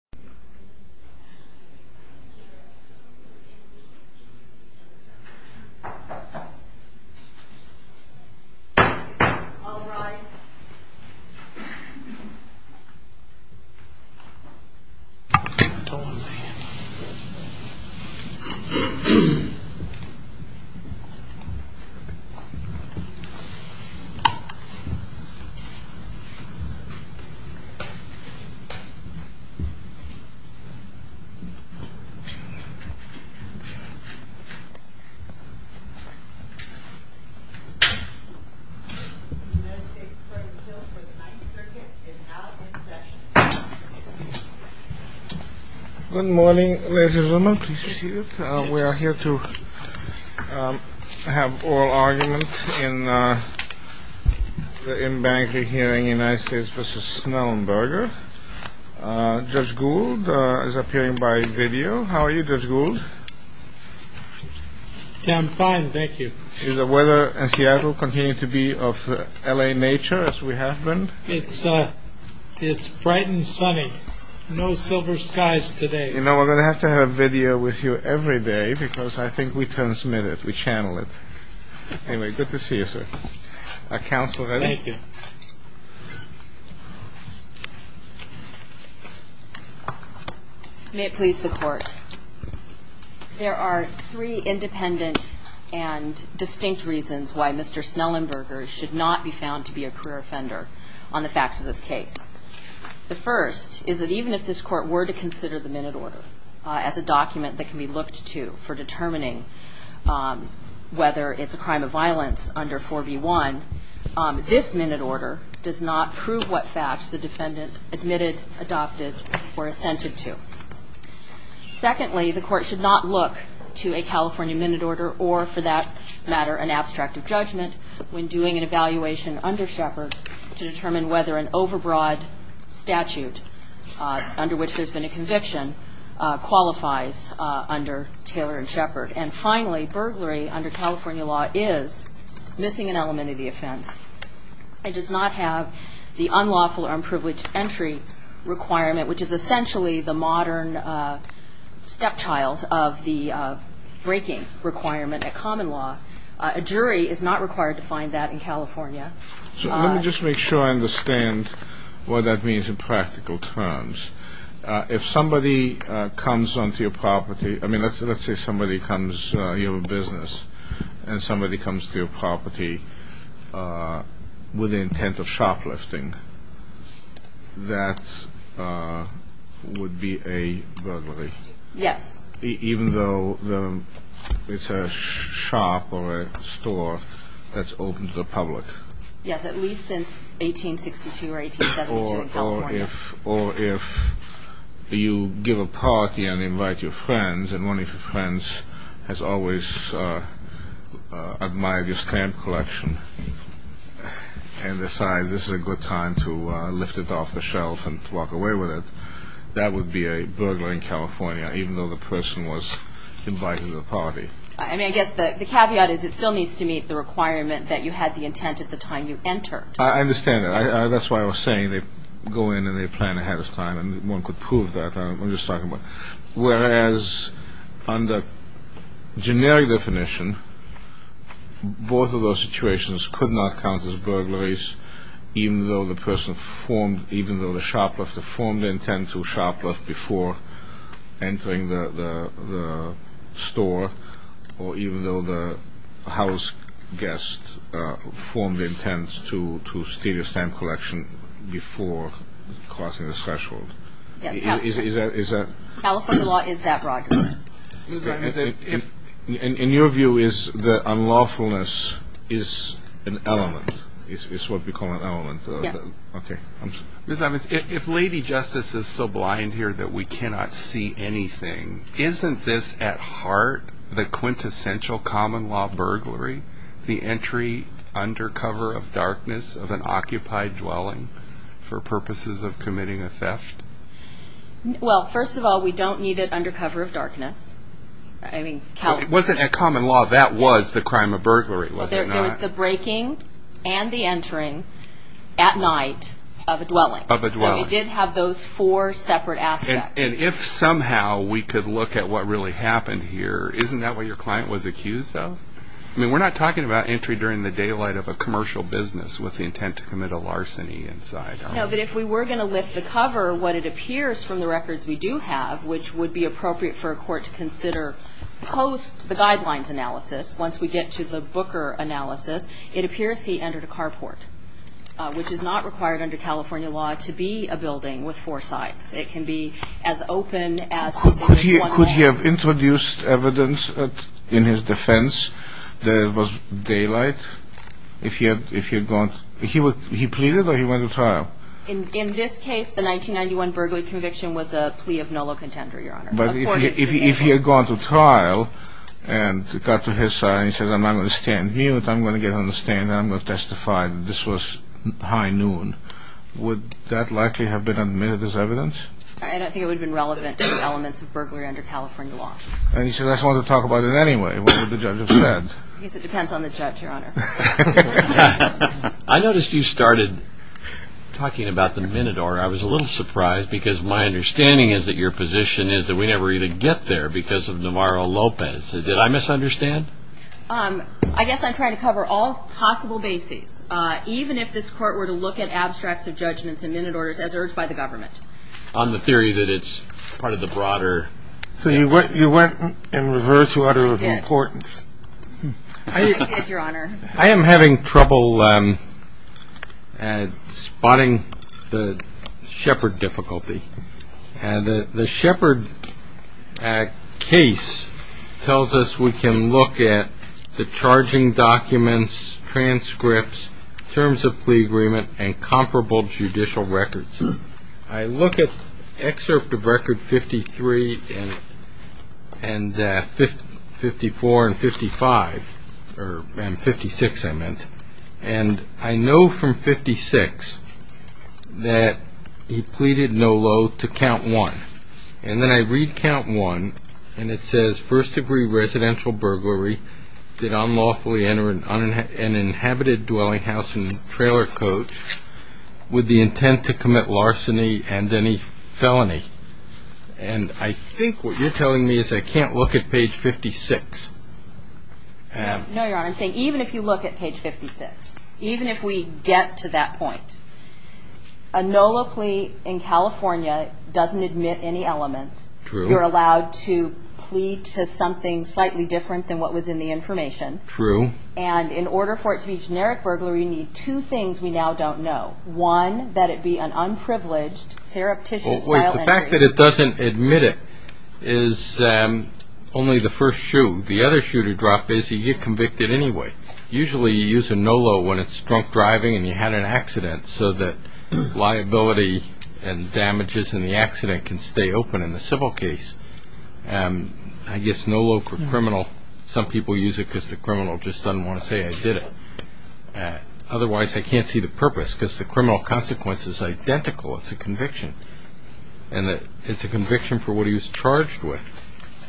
Numb in hand Uppermost Power Can upper arm lift as the hand gets to the chest or the shoulder? Can right arm or left arm raise? The United States Court of Appeals for the Ninth Circuit is now in session. Good morning, ladies and gentlemen. Please be seated. We are here to have oral argument in the in-banker hearing, United States v. Snellenberger. Judge Gould is appearing by video. How are you, Judge Gould? I'm fine, thank you. Is the weather in Seattle continuing to be of L.A. nature, as we have been? It's bright and sunny. No silver skies today. You know, we're going to have to have video with you every day because I think we transmit it, we channel it. Anyway, good to see you, sir. Counsel, ready? Thank you. May it please the Court, there are three independent and distinct reasons why Mr. Snellenberger should not be found to be a career offender on the facts of this case. The first is that even if this Court were to consider the minute order as a document that can be looked to for determining whether it's a crime of violence under 4B1, this minute order does not prove what facts the defendant admitted, adopted, or assented to. Secondly, the Court should not look to a California minute order or, for that matter, an abstract of judgment when doing an evaluation under Shepard to determine whether an overbroad statute under which there's been a conviction qualifies under Taylor and Shepard. And finally, burglary under California law is missing an element of the offense and does not have the unlawful or unprivileged entry requirement, which is essentially the modern stepchild of the breaking requirement at common law. A jury is not required to find that in California. So let me just make sure I understand what that means in practical terms. If somebody comes onto your property, I mean, let's say somebody comes, you have a business, and somebody comes to your property with the intent of shoplifting, that would be a burglary? Yes. Even though it's a shop or a store that's open to the public? Yes, at least since 1862 or 1872 in California. Or if you give a party and invite your friends, and one of your friends has always admired your stamp collection and decides this is a good time to lift it off the shelf and walk away with it, that would be a burglar in California, even though the person was invited to the party. I mean, I guess the caveat is it still needs to meet the requirement that you had the intent at the time you entered. I understand that. That's why I was saying they go in and they plan ahead of time, and one could prove that. I'm just talking about whereas under generic definition, both of those situations could not count as burglaries, even though the person formed, even though the shoplifter formed the intent to shoplift before entering the store, or even though the house guest formed the intent to steal your stamp collection before crossing the threshold. Yes, California law is that broad. In your view, is the unlawfulness an element? It's what we call an element. Yes. Okay. If Lady Justice is so blind here that we cannot see anything, isn't this at heart the quintessential common law burglary, the entry under cover of darkness of an occupied dwelling for purposes of committing a theft? Well, first of all, we don't need it under cover of darkness. It wasn't a common law. That was the crime of burglary, was it not? It was the breaking and the entering at night of a dwelling. Of a dwelling. So we did have those four separate aspects. And if somehow we could look at what really happened here, isn't that what your client was accused of? I mean, we're not talking about entry during the daylight of a commercial business with the intent to commit a larceny inside. No, but if we were going to lift the cover, what it appears from the records we do have, which would be appropriate for a court to consider post the guidelines analysis, once we get to the Booker analysis, it appears he entered a carport, which is not required under California law to be a building with four sides. It can be as open as there is one wall. Could he have introduced evidence in his defense that it was daylight if he had gone? He pleaded or he went to trial? In this case, the 1991 burglary conviction was a plea of nullo contender, Your Honor. But if he had gone to trial and got to his side and he said, I'm not going to stand here, I'm going to get on the stand, and I'm going to testify that this was high noon, would that likely have been admitted as evidence? I don't think it would have been relevant to the elements of burglary under California law. And he said, I just wanted to talk about it anyway. What would the judge have said? I guess it depends on the judge, Your Honor. I noticed you started talking about the Minotaur. I was a little surprised because my understanding is that your position is that we never even get there because of Navarro-Lopez. Did I misunderstand? I guess I'm trying to cover all possible bases, even if this court were to look at abstracts of judgments and Minotaur as urged by the government. On the theory that it's part of the broader. So you went in reverse order of importance. I did, Your Honor. I am having trouble spotting the Shepard difficulty. The Shepard case tells us we can look at the charging documents, transcripts, terms of plea agreement, and comparable judicial records. I look at excerpt of record 53 and 54 and 55, or 56 I meant, and I know from 56 that he pleaded no loathe to count one. And then I read count one and it says, first degree residential burglary did unlawfully enter an inhabited dwelling house and trailer coach with the intent to commit larceny and any felony. And I think what you're telling me is I can't look at page 56. No, Your Honor. I'm saying even if you look at page 56, even if we get to that point, a no loathe plea in California doesn't admit any elements. True. You're allowed to plead to something slightly different than what was in the information. True. And in order for it to be generic burglary, you need two things we now don't know. One, that it be an unprivileged, surreptitious style entry. The fact that it doesn't admit it is only the first shoe. The other shoe to drop is you get convicted anyway. Usually you use a no loathe when it's drunk driving and you had an accident so that liability and damages in the accident can stay open in the civil case. I guess no loathe for criminal, some people use it because the criminal just doesn't want to say I did it. Otherwise I can't see the purpose because the criminal consequence is identical. It's a conviction. And it's a conviction for what he was charged with.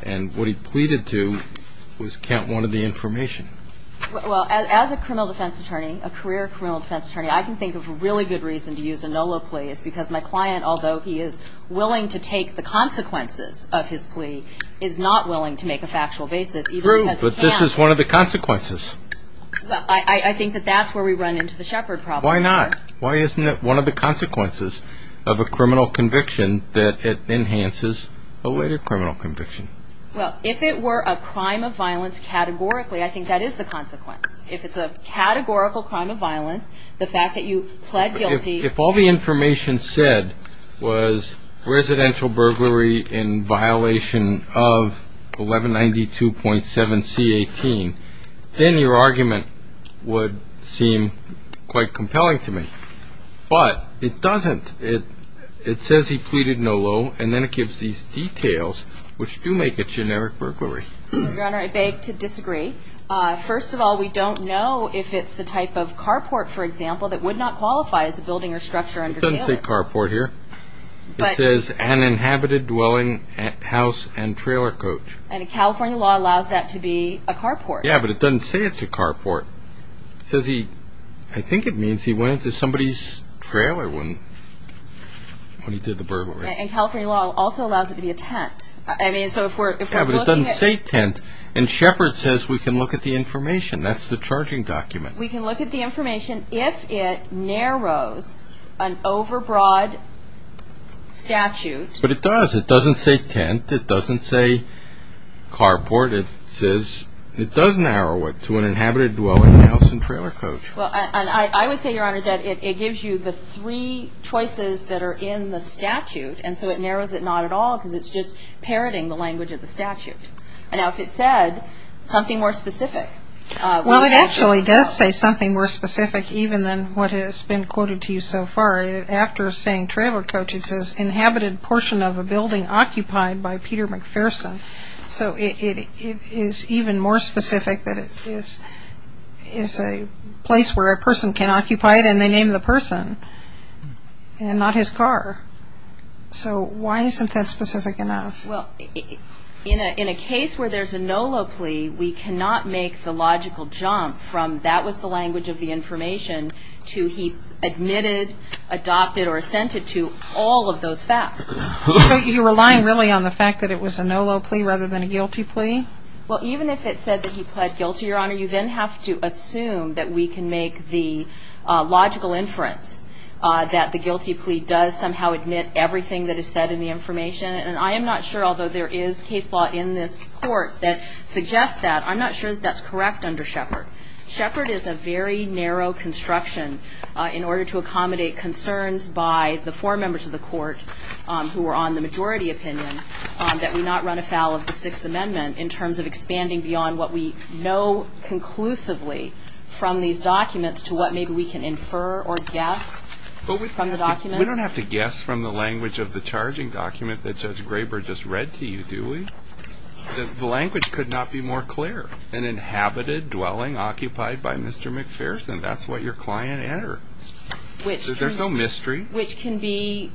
And what he pleaded to was count one of the information. Well, as a criminal defense attorney, a career criminal defense attorney, I can think of a really good reason to use a no loathe plea. It's because my client, although he is willing to take the consequences of his plea, is not willing to make a factual basis even because he can't. True, but this is one of the consequences. I think that that's where we run into the shepherd problem. Why not? Why isn't it one of the consequences of a criminal conviction that it enhances a later criminal conviction? Well, if it were a crime of violence categorically, I think that is the consequence. If it's a categorical crime of violence, the fact that you pled guilty. If all the information said was residential burglary in violation of 1192.7C18, then your argument would seem quite compelling to me. But it doesn't. It says he pleaded no loathe, and then it gives these details, which do make it generic burglary. Your Honor, I beg to disagree. First of all, we don't know if it's the type of carport, for example, that would not qualify as a building or structure under Taylor. It doesn't say carport here. It says an inhabited dwelling house and trailer coach. And California law allows that to be a carport. Yeah, but it doesn't say it's a carport. It says he, I think it means he went into somebody's trailer when he did the burglary. And California law also allows it to be a tent. I mean, so if we're looking at... Yeah, but it doesn't say tent. And shepherd says we can look at the information. That's the charging document. We can look at the information if it narrows an overbroad statute. But it does. It doesn't say tent. It doesn't say carport. It says it does narrow it to an inhabited dwelling house and trailer coach. Well, and I would say, Your Honor, that it gives you the three choices that are in the statute, and so it narrows it not at all because it's just parroting the language of the statute. Now, if it said something more specific... It does say something more specific even than what has been quoted to you so far. After saying trailer coach, it says inhabited portion of a building occupied by Peter McPherson. So it is even more specific that it is a place where a person can occupy it, and they name the person and not his car. So why isn't that specific enough? Well, in a case where there's a NOLO plea, we cannot make the logical jump from that was the language of the information to he admitted, adopted, or assented to all of those facts. You're relying really on the fact that it was a NOLO plea rather than a guilty plea? Well, even if it said that he pled guilty, Your Honor, you then have to assume that we can make the logical inference that the guilty plea does somehow admit everything that is said in the information. And I am not sure, although there is case law in this Court that suggests that, I'm not sure that that's correct under Shepard. Shepard is a very narrow construction in order to accommodate concerns by the four members of the Court who are on the majority opinion that we not run afoul of the Sixth Amendment in terms of expanding beyond what we know conclusively from these documents to what maybe we can infer or guess from the documents. We don't have to guess from the language of the charging document that Judge Graber just read to you, do we? The language could not be more clear. An inhabited dwelling occupied by Mr. McPherson. That's what your client entered. There's no mystery. Which can be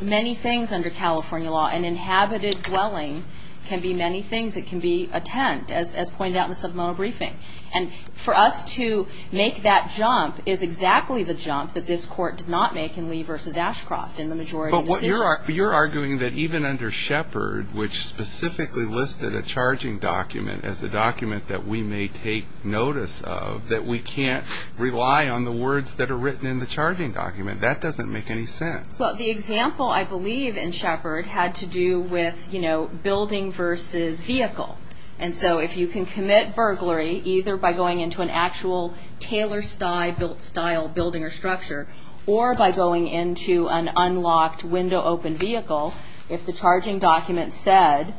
many things under California law. An inhabited dwelling can be many things. It can be a tent, as pointed out in the supplemental briefing. And for us to make that jump is exactly the jump that this Court did not make in Lee v. Ashcroft in the majority decision. But you're arguing that even under Shepard, which specifically listed a charging document as a document that we may take notice of, that we can't rely on the words that are written in the charging document. That doesn't make any sense. Well, the example, I believe, in Shepard had to do with, you know, building v. vehicle. And so if you can commit burglary either by going into an actual tailor-style building or structure or by going into an unlocked, window-open vehicle, if the charging document said,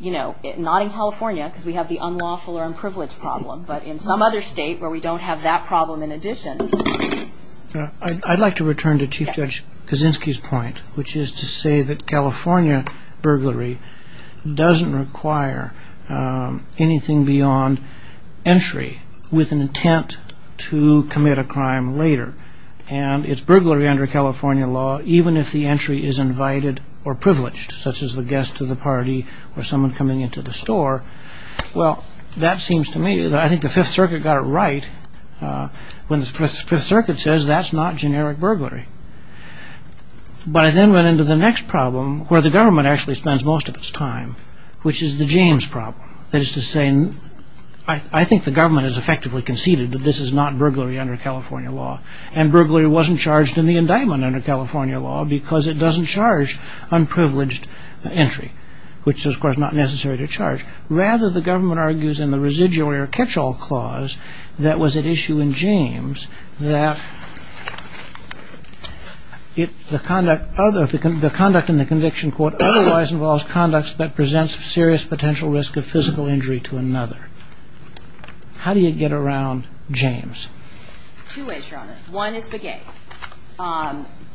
you know, not in California, because we have the unlawful or unprivileged problem, but in some other state where we don't have that problem in addition. I'd like to return to Chief Judge Kaczynski's point, which is to say that California burglary doesn't require anything beyond entry with an intent to commit a crime later. And it's burglary under California law even if the entry is invited or privileged, such as the guest to the party or someone coming into the store. Well, that seems to me, I think the Fifth Circuit got it right when the Fifth Circuit says that's not generic burglary. But I then went into the next problem where the government actually spends most of its time, which is the James problem. That is to say, I think the government has effectively conceded that this is not burglary under California law, and burglary wasn't charged in the indictment under California law because it doesn't charge unprivileged entry, which is, of course, not necessary to charge. Rather, the government argues in the residual or catch-all clause that was at issue in James that the conduct in the conviction court otherwise involves conducts that presents a serious potential risk of physical injury to another. How do you get around James? Two ways, Your Honor. One is the gate.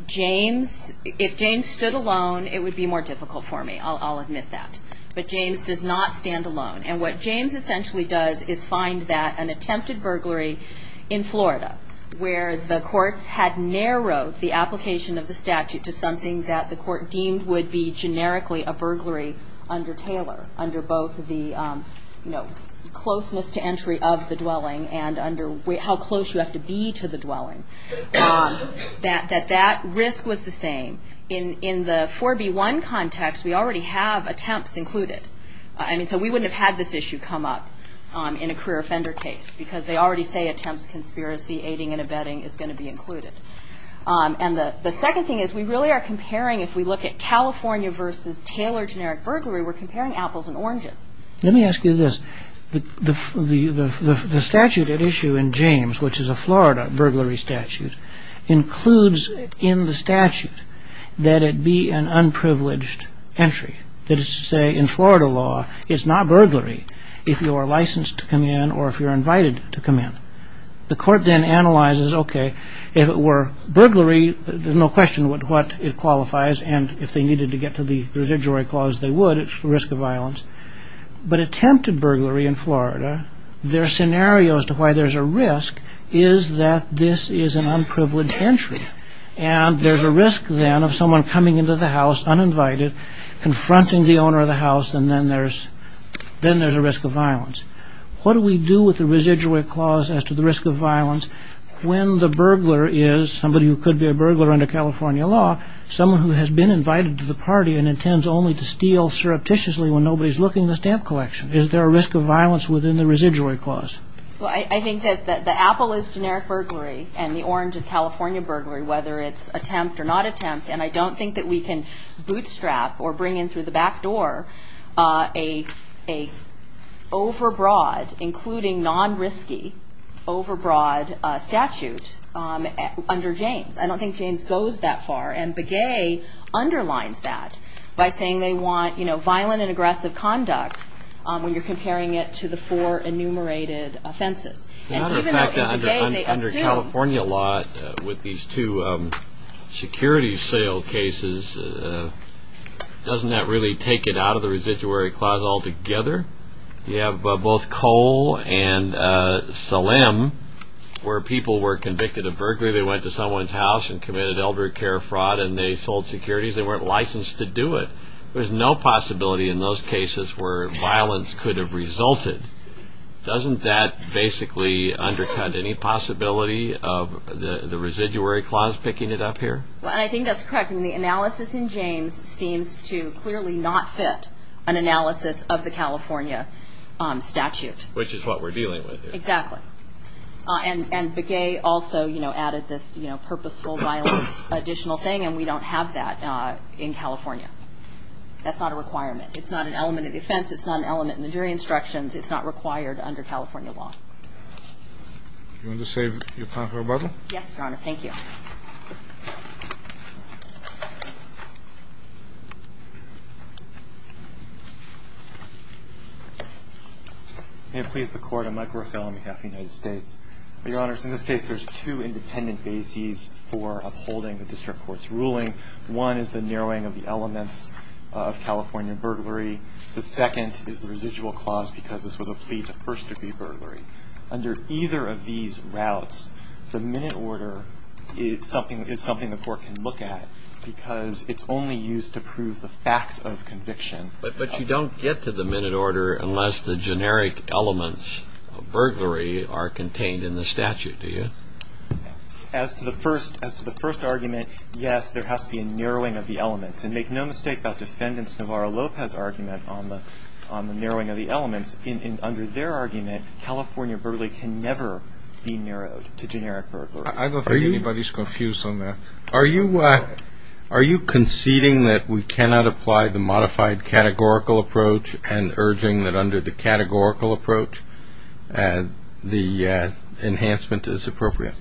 James, if James stood alone, it would be more difficult for me. I'll admit that. But James does not stand alone. And what James essentially does is find that an attempted burglary in Florida where the courts had narrowed the application of the statute to something that the court deemed would be generically a burglary under Taylor, under both the closeness to entry of the dwelling and under how close you have to be to the dwelling, that that risk was the same. In the 4B1 context, we already have attempts included. So we wouldn't have had this issue come up in a career offender case because they already say attempts, conspiracy, aiding and abetting is going to be included. And the second thing is we really are comparing, if we look at California versus Taylor generic burglary, we're comparing apples and oranges. Let me ask you this. The statute at issue in James, which is a Florida burglary statute, includes in the statute that it be an unprivileged entry. That is to say, in Florida law, it's not burglary if you are licensed to come in or if you're invited to come in. The court then analyzes, okay, if it were burglary, there's no question what it qualifies and if they needed to get to the residuary clause, they would. It's a risk of violence. But attempted burglary in Florida, their scenario as to why there's a risk is that this is an unprivileged entry. And there's a risk then of someone coming into the house uninvited, confronting the owner of the house, and then there's a risk of violence. What do we do with the residuary clause as to the risk of violence when the burglar is somebody who could be a burglar under California law, someone who has been invited to the party and intends only to steal surreptitiously when nobody's looking in the stamp collection? Is there a risk of violence within the residuary clause? I think that the apple is generic burglary and the orange is California burglary, whether it's attempt or not attempt. And I don't think that we can bootstrap or bring in through the back door an overbroad, including non-risky, overbroad statute under James. I don't think James goes that far, and Begay underlines that by saying they want violent and aggressive conduct when you're comparing it to the four enumerated offenses. And even though in Begay they assume... In fact, under California law, with these two security sale cases, doesn't that really take it out of the residuary clause altogether? You have both Cole and Salem where people were convicted of burglary. They went to someone's house and committed elder care fraud and they sold securities. They weren't licensed to do it. There's no possibility in those cases where violence could have resulted. Doesn't that basically undercut any possibility of the residuary clause picking it up here? Well, I think that's correct. And the analysis in James seems to clearly not fit an analysis of the California statute. Which is what we're dealing with here. Exactly. And Begay also added this purposeful violence additional thing, and we don't have that in California. That's not a requirement. It's not an element of defense. It's not an element in the jury instructions. It's not required under California law. Do you want to save your time for rebuttal? Yes, Your Honor. Thank you. May it please the Court. I'm Mike Rothell on behalf of the United States. Your Honors, in this case there's two independent bases for upholding the district court's ruling. One is the narrowing of the elements of California burglary. The second is the residual clause because this was a plea to first degree burglary. Under either of these routes, the minute order is something the court can look at because it's only used to prove the fact of conviction. But you don't get to the minute order unless the generic elements of burglary are contained in the statute, do you? As to the first argument, yes, there has to be a narrowing of the elements. And make no mistake about Defendant Navarro Lopez's argument on the narrowing of the elements. Under their argument, California burglary can never be narrowed to generic burglary. I don't think anybody's confused on that. Are you conceding that we cannot apply the modified categorical approach and urging that under the categorical approach the enhancement is appropriate?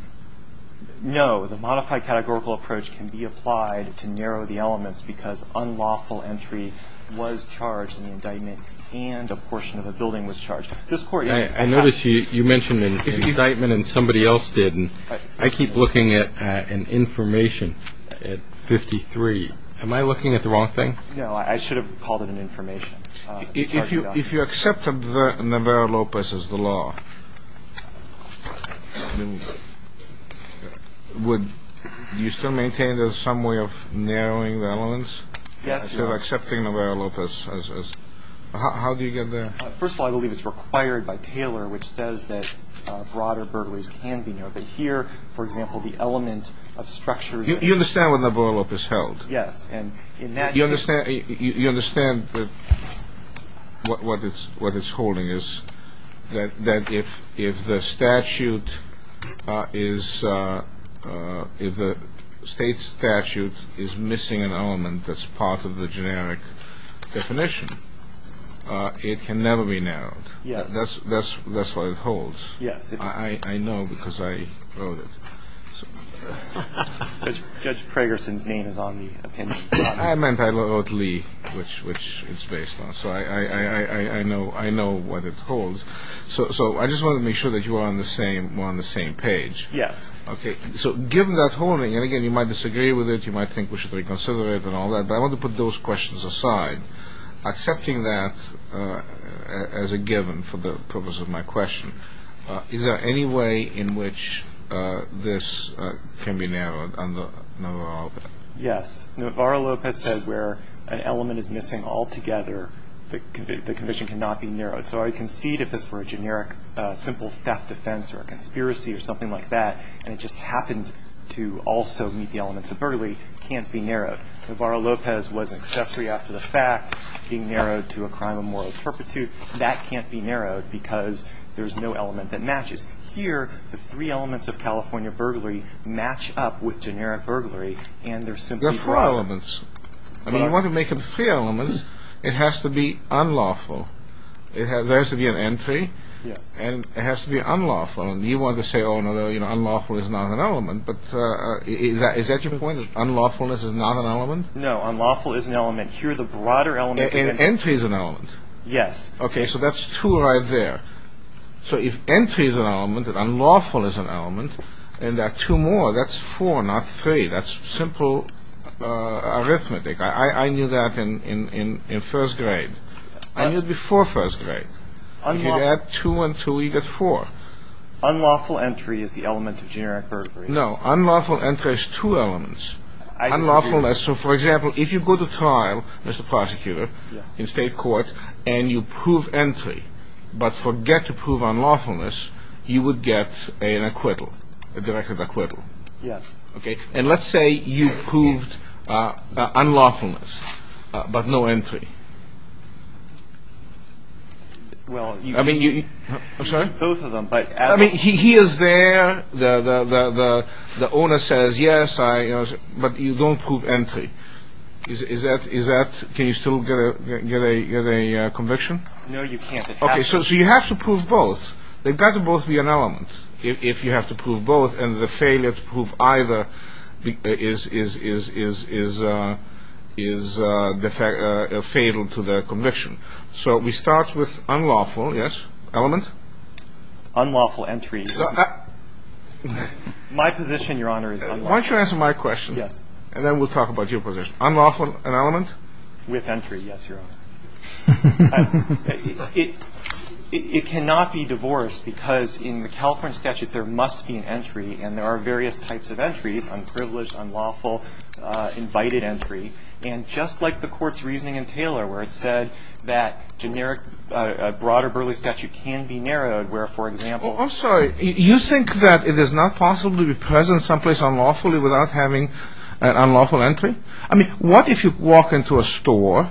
No. The modified categorical approach can be applied to narrow the elements because unlawful entry was charged in the indictment and a portion of the building was charged. I notice you mentioned an indictment and somebody else didn't. I keep looking at an information at 53. Am I looking at the wrong thing? No, I should have called it an information. If you accept Navarro Lopez as the law, would you still maintain there's some way of narrowing the elements? Yes. Instead of accepting Navarro Lopez as... How do you get there? First of all, I believe it's required by Taylor, which says that broader burglaries can be narrowed. But here, for example, the element of structure... You understand what Navarro Lopez held? Yes. You understand what it's holding is that if the statute is missing an element that's part of the generic definition, it can never be narrowed. Yes. That's what it holds. Yes. I know because I wrote it. Judge Pragerson's name is on the opinion. I meant I wrote Lee, which it's based on. So I know what it holds. So I just want to make sure that you are on the same page. Yes. So given that holding, and again, you might disagree with it, you might think we should reconsider it and all that, but I want to put those questions aside. Accepting that as a given for the purpose of my question, is there any way in which this can be narrowed under Navarro Lopez? Yes. Navarro Lopez said where an element is missing altogether, the conviction cannot be narrowed. So I concede if this were a generic, simple theft offense or a conspiracy or something like that, and it just happened to also meet the elements of burglary, it can't be narrowed. Navarro Lopez was an accessory after the fact, being narrowed to a crime of moral perpetuity. That can't be narrowed because there's no element that matches. Here, the three elements of California burglary match up with generic burglary, and they're simply brought up. There are four elements. If you want to make them three elements, it has to be unlawful. There has to be an entry, and it has to be unlawful. And you want to say, oh, no, unlawful is not an element, but is that your point, that unlawfulness is not an element? No, unlawful is an element. Here, the broader element is an element. An entry is an element. Yes. Okay, so that's two right there. So if entry is an element and unlawful is an element, and there are two more, that's four, not three. That's simple arithmetic. I knew that in first grade. I knew it before first grade. If you add two and two, you get four. Unlawful entry is the element of generic burglary. No, unlawful entry is two elements. Unlawfulness, so, for example, if you go to trial, Mr. Prosecutor, in state court, and you prove entry but forget to prove unlawfulness, you would get an acquittal, a directed acquittal. Yes. Okay, and let's say you proved unlawfulness but no entry. Well, you can do both of them. I mean, he is there, the owner says, yes, but you don't prove entry. Can you still get a conviction? No, you can't. Okay, so you have to prove both. They've got to both be an element if you have to prove both, and the failure to prove either is fatal to the conviction. So we start with unlawful, yes, element? Unlawful entry. My position, Your Honor, is unlawful. Why don't you answer my question? Yes. And then we'll talk about your position. Unlawful, an element? With entry, yes, Your Honor. It cannot be divorced because in the California statute there must be an entry, and there are various types of entries, unprivileged, unlawful, invited entry. And just like the court's reasoning in Taylor where it said that generic, a broader Burley statute can be narrowed where, for example. I'm sorry. You think that it is not possible to be present someplace unlawfully without having an unlawful entry? I mean, what if you walk into a store,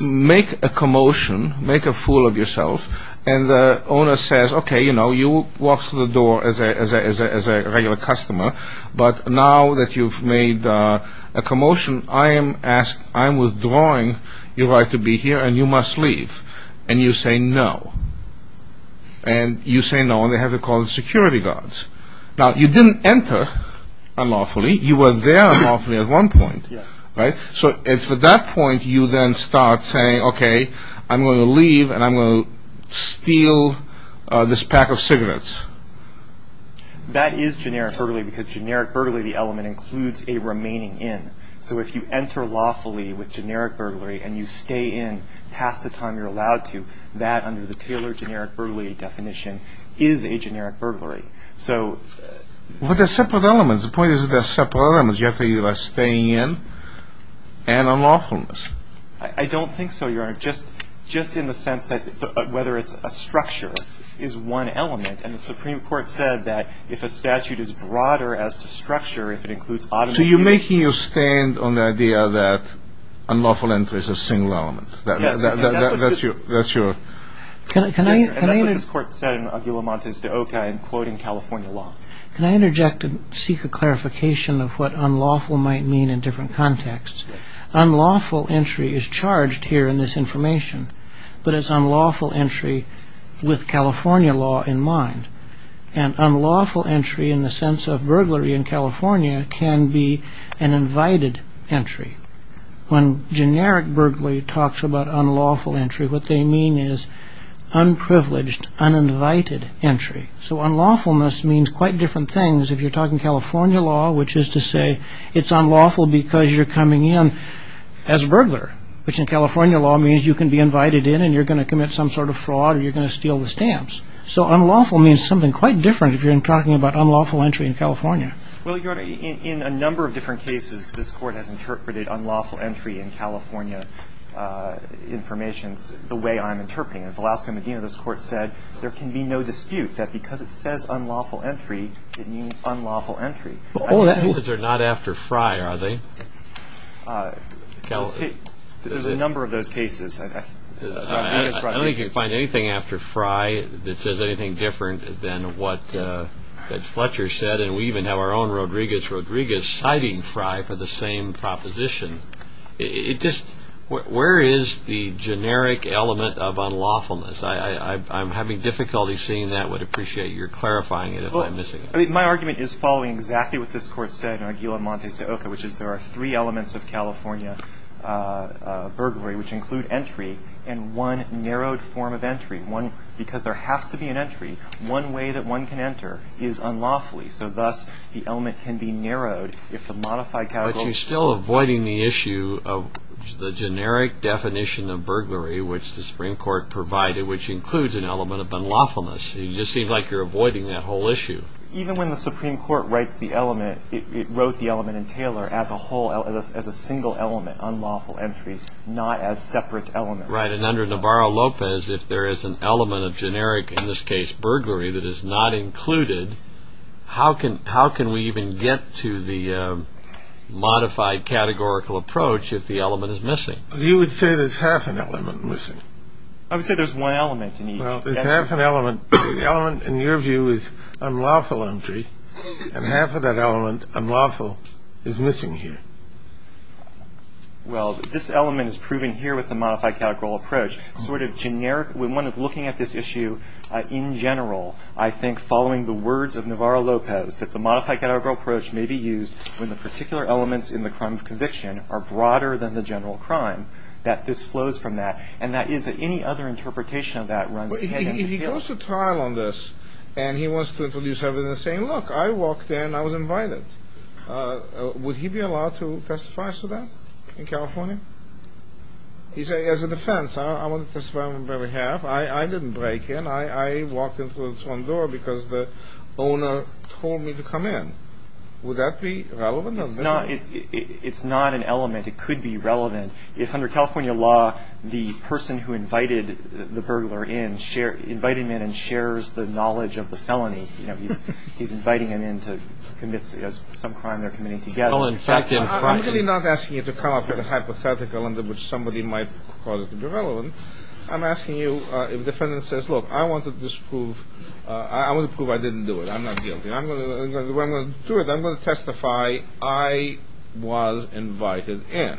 make a commotion, make a fool of yourself, and the owner says, okay, you know, you walked through the door as a regular customer, but now that you've made a commotion, I am withdrawing your right to be here, and you must leave. And you say no. And you say no, and they have to call the security guards. Now, you didn't enter unlawfully. You were there unlawfully at one point. Yes. Right? So it's at that point you then start saying, okay, I'm going to leave, and I'm going to steal this pack of cigarettes. That is generic burglary because generic burglary, the element, includes a remaining in. So if you enter lawfully with generic burglary and you stay in past the time you're allowed to, that under the Taylor generic burglary definition is a generic burglary. So. Well, they're separate elements. The point is they're separate elements. You have to either stay in and unlawfulness. I don't think so, Your Honor, just in the sense that whether it's a structure is one element, and the Supreme Court said that if a statute is broader as to structure, if it includes automatic use. So you're making your stand on the idea that unlawful entry is a single element. Yes. That's your. Yes, sir. And that's what this court said in Aguila Montes de Oca in quoting California law. Can I interject and seek a clarification of what unlawful might mean in different contexts? Unlawful entry is charged here in this information, but it's unlawful entry with California law in mind. And unlawful entry in the sense of burglary in California can be an invited entry. When generic burglary talks about unlawful entry, what they mean is unprivileged, uninvited entry. So unlawfulness means quite different things if you're talking California law, which is to say it's unlawful because you're coming in as a burglar, which in California law means you can be invited in and you're going to commit some sort of fraud or you're going to steal the stamps. So unlawful means something quite different if you're talking about unlawful entry in California. Well, Your Honor, in a number of different cases, this court has interpreted unlawful entry in California information the way I'm interpreting it. In Velasco Medina, this court said there can be no dispute that because it says unlawful entry, it means unlawful entry. Those are not after Fry, are they? There's a number of those cases. I don't think you can find anything after Fry that says anything different than what Fletcher said, and we even have our own Rodriguez-Rodriguez citing Fry for the same proposition. Where is the generic element of unlawfulness? I'm having difficulty seeing that. I would appreciate your clarifying it if I'm missing it. My argument is following exactly what this court said in Aguila Montes de Oca, which is there are three elements of California burglary, which include entry and one narrowed form of entry. Because there has to be an entry, one way that one can enter is unlawfully, so thus the element can be narrowed. But you're still avoiding the issue of the generic definition of burglary, which the Supreme Court provided, which includes an element of unlawfulness. You just seem like you're avoiding that whole issue. Even when the Supreme Court writes the element, it wrote the element in Taylor as a whole, as a single element, unlawful entry, not as separate elements. Right, and under Navarro-Lopez, if there is an element of generic, in this case burglary, that is not included, how can we even get to the modified categorical approach if the element is missing? You would say there's half an element missing. I would say there's one element you need. Well, there's half an element. The element, in your view, is unlawful entry, and half of that element, unlawful, is missing here. Well, this element is proven here with the modified categorical approach. Sort of generic, when one is looking at this issue in general, I think following the words of Navarro-Lopez that the modified categorical approach may be used when the particular elements in the crime of conviction are broader than the general crime, that this flows from that, and that is that any other interpretation of that runs ahead in the field. If he goes to trial on this and he wants to introduce evidence saying, look, I walked in, I was invited, would he be allowed to testify to that in California? He says, as a defense, I want to testify on their behalf. I didn't break in. I walked in through this one door because the owner told me to come in. Would that be relevant? It's not. It's not an element. It could be relevant. If under California law the person who invited the burglar in, invited him in and shares the knowledge of the felony, he's inviting him in to commit some crime they're committing together. I'm really not asking you to come up with a hypothetical under which somebody might call it irrelevant. I'm asking you, if the defendant says, look, I want to prove I didn't do it, I'm not guilty, I'm going to do it, I'm going to testify, I was invited in.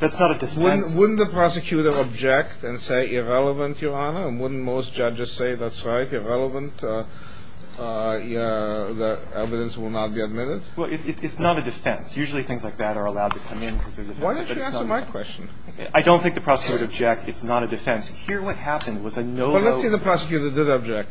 That's not a defense. Wouldn't the prosecutor object and say irrelevant, Your Honor? And wouldn't most judges say that's right, irrelevant, the evidence will not be admitted? Well, it's not a defense. Usually things like that are allowed to come in because they're defense. Why don't you answer my question? I don't think the prosecutor would object. It's not a defense. Here what happened was I no longer – Well, let's say the prosecutor did object.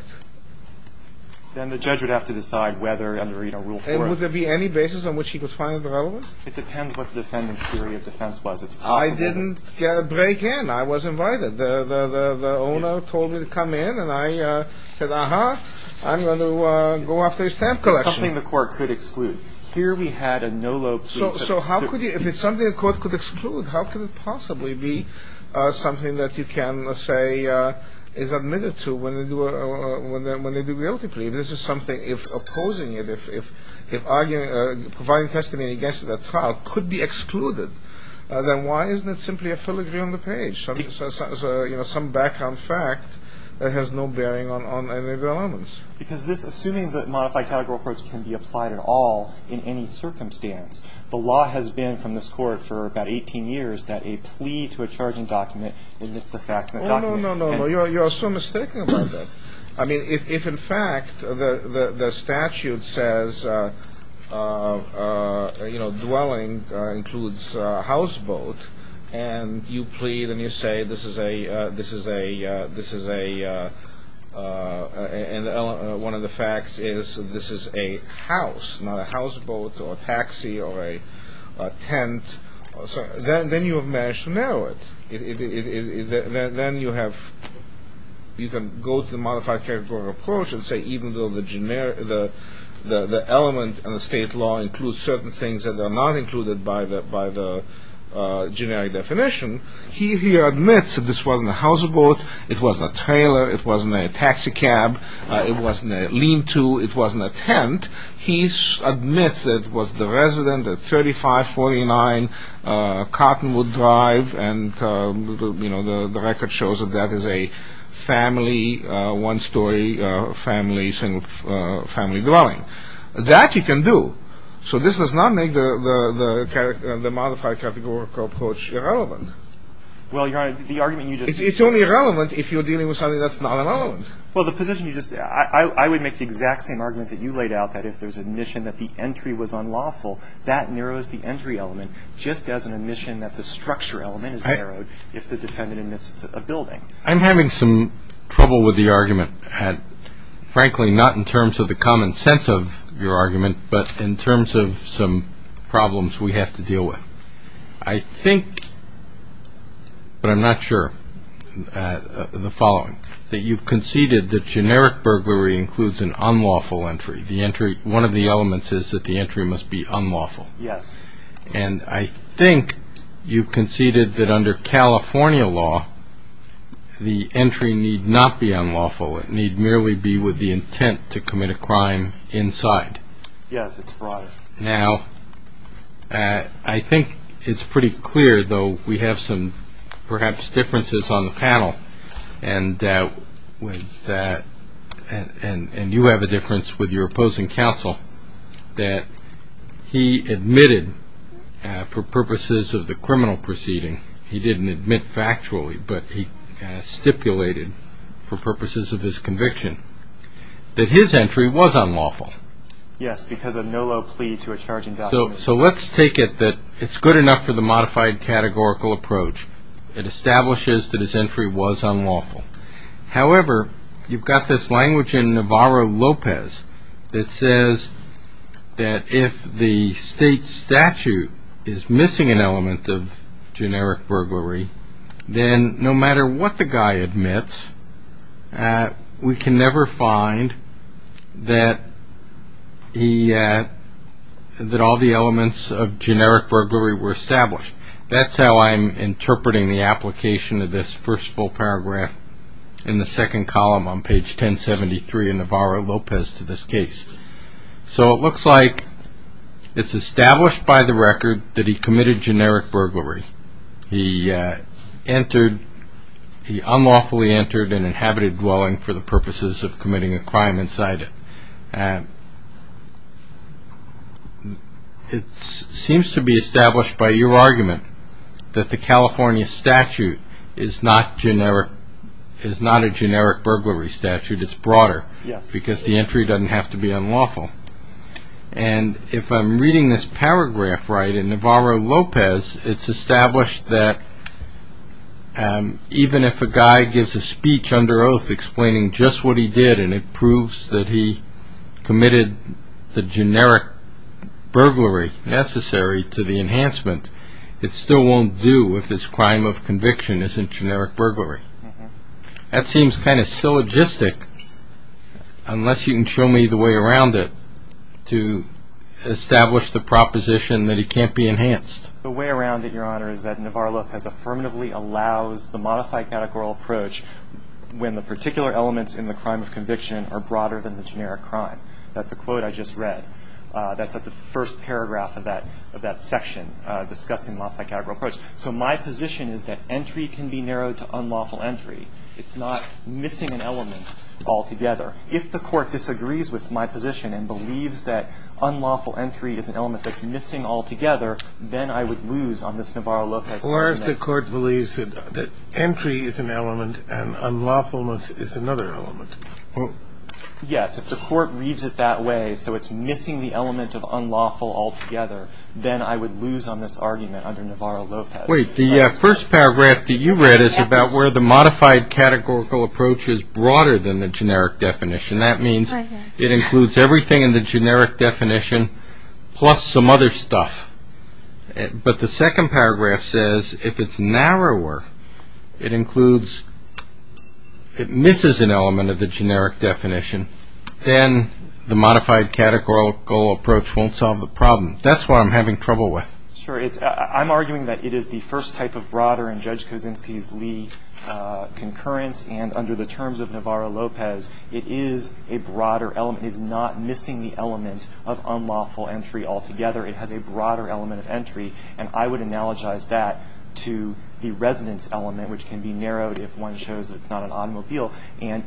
Then the judge would have to decide whether under Rule 4 – And would there be any basis on which he could find it relevant? It depends what the defendant's theory of defense was. It's possible – I didn't break in. I was invited. The owner told me to come in, and I said, uh-huh, I'm going to go after his stamp collection. Something the court could exclude. Here we had a no-look – So how could you – if it's something the court could exclude, how could it possibly be something that you can say is admitted to when they do a guilty plea? If this is something – if opposing it, if providing testimony against it at trial could be excluded, then why isn't it simply a filigree on the page? Some background fact that has no bearing on any of the elements. Because this – assuming the modified categorical approach can be applied at all in any circumstance, the law has been from this court for about 18 years that a plea to a charging document admits the fact that – Oh, no, no, no, no. You are so mistaken about that. I mean, if in fact the statute says, you know, dwelling includes houseboat, and you plead and you say this is a – and one of the facts is this is a house, not a houseboat or a taxi or a tent, then you have managed to narrow it. Then you have – you can go to the modified categorical approach and say even though the element in the state law includes certain things that are not included by the generic definition, he here admits that this wasn't a houseboat, it wasn't a trailer, it wasn't a taxi cab, it wasn't a lean-to, it wasn't a tent. He admits that it was the resident at 3549 Cottonwood Drive, and, you know, the record shows that that is a family, one-story family dwelling. That you can do. So this does not make the modified categorical approach irrelevant. Well, Your Honor, the argument you just – It's only irrelevant if you're dealing with something that's not relevant. Well, the position you just – I would make the exact same argument that you laid out, that if there's admission that the entry was unlawful, that narrows the entry element, just as an admission that the structure element is narrowed if the defendant admits it's a building. I'm having some trouble with the argument. Frankly, not in terms of the common sense of your argument, but in terms of some problems we have to deal with. I think, but I'm not sure, the following. That you've conceded that generic burglary includes an unlawful entry. One of the elements is that the entry must be unlawful. Yes. And I think you've conceded that under California law, the entry need not be unlawful. It need merely be with the intent to commit a crime inside. Yes, that's right. Now, I think it's pretty clear, though we have some perhaps differences on the panel, and you have a difference with your opposing counsel, that he admitted for purposes of the criminal proceeding, he didn't admit factually, but he stipulated for purposes of his conviction, that his entry was unlawful. Yes, because of no low plea to a charging document. So let's take it that it's good enough for the modified categorical approach. It establishes that his entry was unlawful. However, you've got this language in Navarro-Lopez that says that if the state statute is missing an element of generic burglary, then no matter what the guy admits, we can never find that all the elements of generic burglary were established. That's how I'm interpreting the application of this first full paragraph in the second column on page 1073 in Navarro-Lopez to this case. So it looks like it's established by the record that he committed generic burglary. He unlawfully entered an inhabited dwelling for the purposes of committing a crime inside it. It seems to be established by your argument that the California statute is not a generic burglary statute. It's broader because the entry doesn't have to be unlawful. And if I'm reading this paragraph right, in Navarro-Lopez it's established that even if a guy gives a speech under oath explaining just what he did and it proves that he committed the generic burglary necessary to the enhancement, it still won't do if his crime of conviction isn't generic burglary. That seems kind of syllogistic unless you can show me the way around it to establish the proposition that it can't be enhanced. The way around it, Your Honor, is that Navarro-Lopez affirmatively allows the modified categorical approach when the particular elements in the crime of conviction are broader than the generic crime. That's a quote I just read. That's the first paragraph of that section discussing the modified categorical approach. So my position is that entry can be narrowed to unlawful entry. It's not missing an element altogether. If the court disagrees with my position and believes that unlawful entry is an element that's missing altogether, then I would lose on this Navarro-Lopez argument. Or if the court believes that entry is an element and unlawfulness is another element. Yes. If the court reads it that way, so it's missing the element of unlawful altogether, then I would lose on this argument under Navarro-Lopez. Wait. The first paragraph that you read is about where the modified categorical approach is broader than the generic definition. That means it includes everything in the generic definition plus some other stuff. But the second paragraph says if it's narrower, it includes, it misses an element of the generic definition, then the modified categorical approach won't solve the problem. That's what I'm having trouble with. Sure. I'm arguing that it is the first type of broader in Judge Kosinski's Lee concurrence. And under the terms of Navarro-Lopez, it is a broader element. It is not missing the element of unlawful entry altogether. It has a broader element of entry. And I would analogize that to the resonance element, which can be narrowed if one shows it's not an automobile. And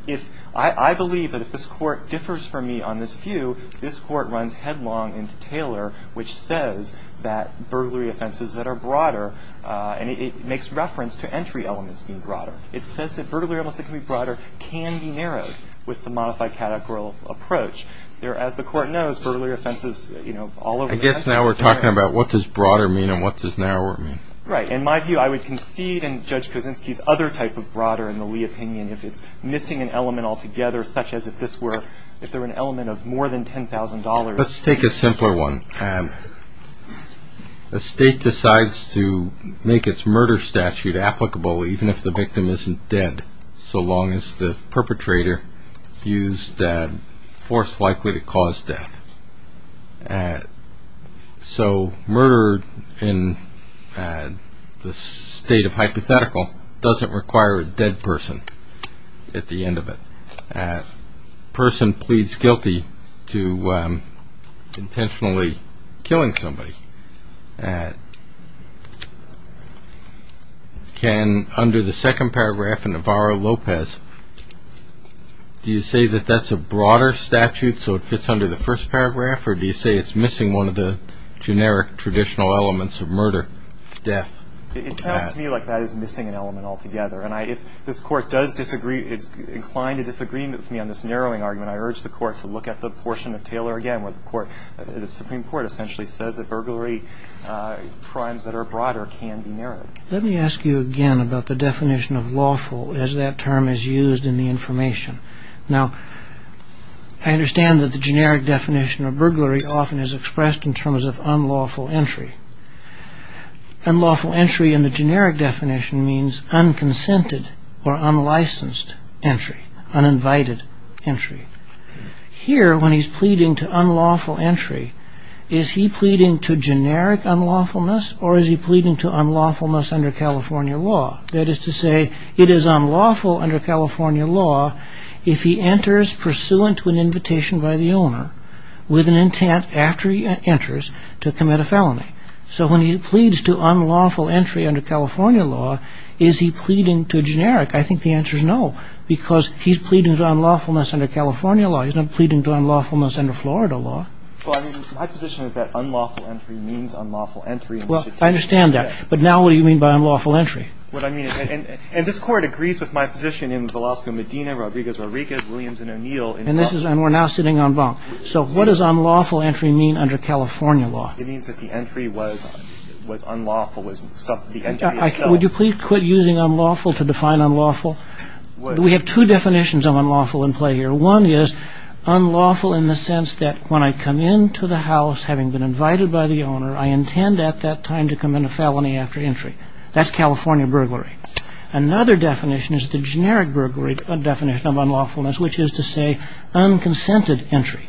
I believe that if this Court differs from me on this view, this Court runs headlong into Taylor, which says that burglary offenses that are broader, and it makes reference to entry elements being broader. It says that burglary elements that can be broader can be narrowed with the modified categorical approach. As the Court knows, burglary offenses, you know, all over the country. I guess now we're talking about what does broader mean and what does narrower mean. Right. In my view, I would concede in Judge Kosinski's other type of broader in the Lee opinion if it's missing an element altogether, such as if this were, if there were an element of more than $10,000. Let's take a simpler one. A state decides to make its murder statute applicable even if the victim isn't dead, so long as the perpetrator views that force likely to cause death. So murder in the state of hypothetical doesn't require a dead person at the end of it. A person pleads guilty to intentionally killing somebody. Can, under the second paragraph in Navarro-Lopez, do you say that that's a broader statute, so it fits under the first paragraph, or do you say it's missing one of the generic traditional elements of murder, death? It sounds to me like that is missing an element altogether. And if this Court does disagree, is inclined to disagree with me on this narrowing argument, I urge the Court to look at the portion of Taylor again where the Supreme Court essentially says that burglary crimes that are broader can be narrowed. Let me ask you again about the definition of lawful as that term is used in the information. Now, I understand that the generic definition of burglary often is expressed in terms of unlawful entry. Unlawful entry in the generic definition means unconsented or unlicensed entry, uninvited entry. Here, when he's pleading to unlawful entry, is he pleading to generic unlawfulness, or is he pleading to unlawfulness under California law? That is to say, it is unlawful under California law if he enters pursuant to an invitation by the owner with an intent, after he enters, to commit a felony. So when he pleads to unlawful entry under California law, is he pleading to generic? I think the answer is no, because he's pleading to unlawfulness under California law. He's not pleading to unlawfulness under Florida law. Well, I mean, my position is that unlawful entry means unlawful entry. Well, I understand that. But now what do you mean by unlawful entry? What I mean is, and this Court agrees with my position in Velasco-Medina, Rodriguez-Rodriguez, Williams and O'Neill. And this is, and we're now sitting on bunk. So what does unlawful entry mean under California law? It means that the entry was unlawful. Would you please quit using unlawful to define unlawful? We have two definitions of unlawful in play here. One is unlawful in the sense that when I come into the house having been invited by the owner, I intend at that time to commit a felony after entry. That's California burglary. Another definition is the generic burglary definition of unlawfulness, which is to say unconsented entry.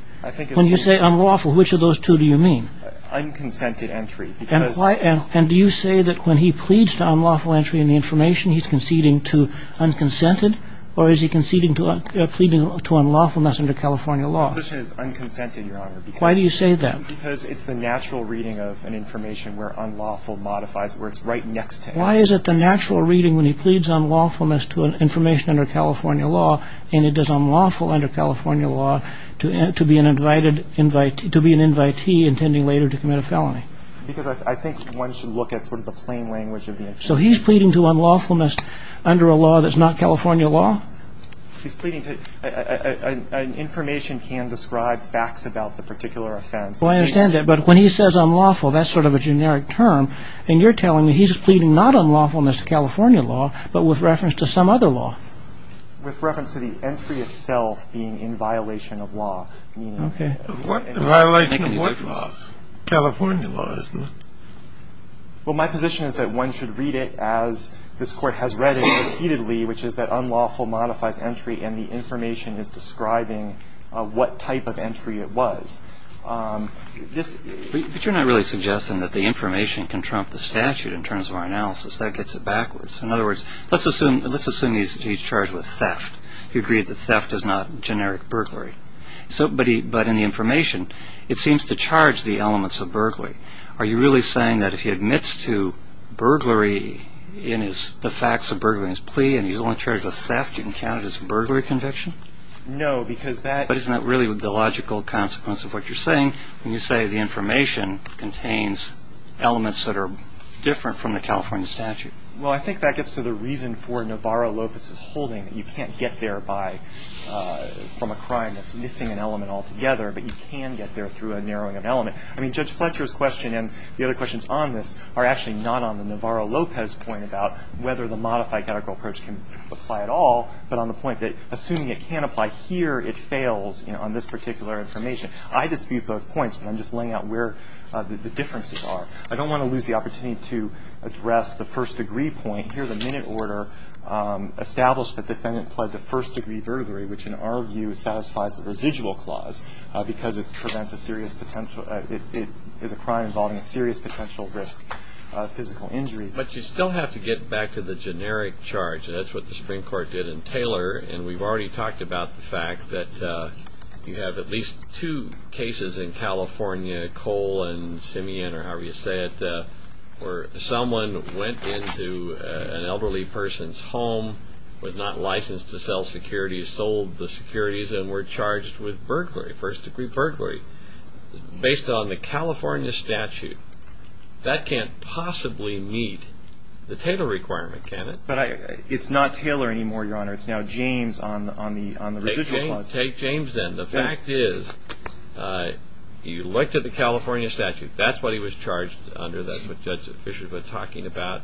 When you say unlawful, which of those two do you mean? Unconsented entry. And do you say that when he pleads to unlawful entry in the information, he's conceding to unconsented? Or is he conceding to pleading to unlawfulness under California law? Unconsented, Your Honor. Why do you say that? Because it's the natural reading of an information where unlawful modifies it, where it's right next to it. Why is it the natural reading when he pleads unlawfulness to information under California law, and it is unlawful under California law to be an invitee intending later to commit a felony? Because I think one should look at sort of the plain language of the information. So he's pleading to unlawfulness under a law that's not California law? He's pleading to an information can describe facts about the particular offense. Well, I understand that. But when he says unlawful, that's sort of a generic term. And you're telling me he's pleading not unlawfulness to California law, but with reference to some other law? With reference to the entry itself being in violation of law. Okay. Violation of what law? California law, isn't it? Well, my position is that one should read it as this Court has read it repeatedly, which is that unlawful modifies entry and the information is describing what type of entry it was. But you're not really suggesting that the information can trump the statute in terms of our analysis. That gets it backwards. In other words, let's assume he's charged with theft. He agreed that theft is not generic burglary. But in the information, it seems to charge the elements of burglary. Are you really saying that if he admits to burglary in the facts of burglary in his plea and he's only charged with theft, you can count it as a burglary conviction? No, because that – But isn't that really the logical consequence of what you're saying when you say the information contains elements that are different from the California statute? Well, I think that gets to the reason for Navarro-Lopez's holding, that you can't get there from a crime that's missing an element altogether, but you can get there through a narrowing of an element. I mean, Judge Fletcher's question and the other questions on this are actually not on the Navarro-Lopez point about whether the modified categorical approach can apply at all, but on the point that assuming it can apply here, it fails on this particular information. I dispute both points, but I'm just laying out where the differences are. I don't want to lose the opportunity to address the first-degree point. Here, the minute order established that defendant pled to first-degree burglary, which in our view satisfies the residual clause because it prevents a serious potential – it is a crime involving a serious potential risk of physical injury. But you still have to get back to the generic charge, and that's what the Supreme Court did in Taylor, and we've already talked about the fact that you have at least two cases in California, Cole and Simeon or however you say it, where someone went into an elderly person's home, was not licensed to sell securities, sold the securities, and were charged with burglary, first-degree burglary. Based on the California statute, that can't possibly meet the Taylor requirement, can it? But it's not Taylor anymore, Your Honor. It's now James on the residual clause. Take James then. The fact is you looked at the California statute. That's what he was charged under, that's what Judge Fischer's been talking about.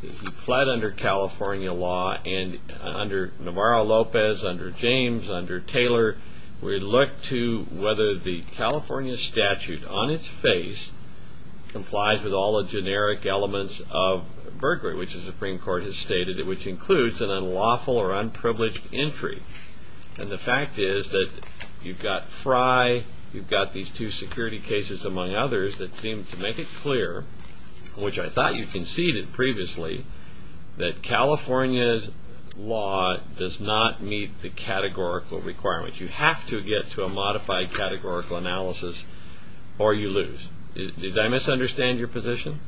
He pled under California law, and under Navarro-Lopez, under James, under Taylor, we looked to whether the California statute on its face complies with all the generic elements of burglary, which the Supreme Court has stated, which includes an unlawful or unprivileged entry. And the fact is that you've got Fry, you've got these two security cases, among others, that seem to make it clear, which I thought you conceded previously, that California's law does not meet the categorical requirements. You have to get to a modified categorical analysis or you lose. Did I misunderstand your position?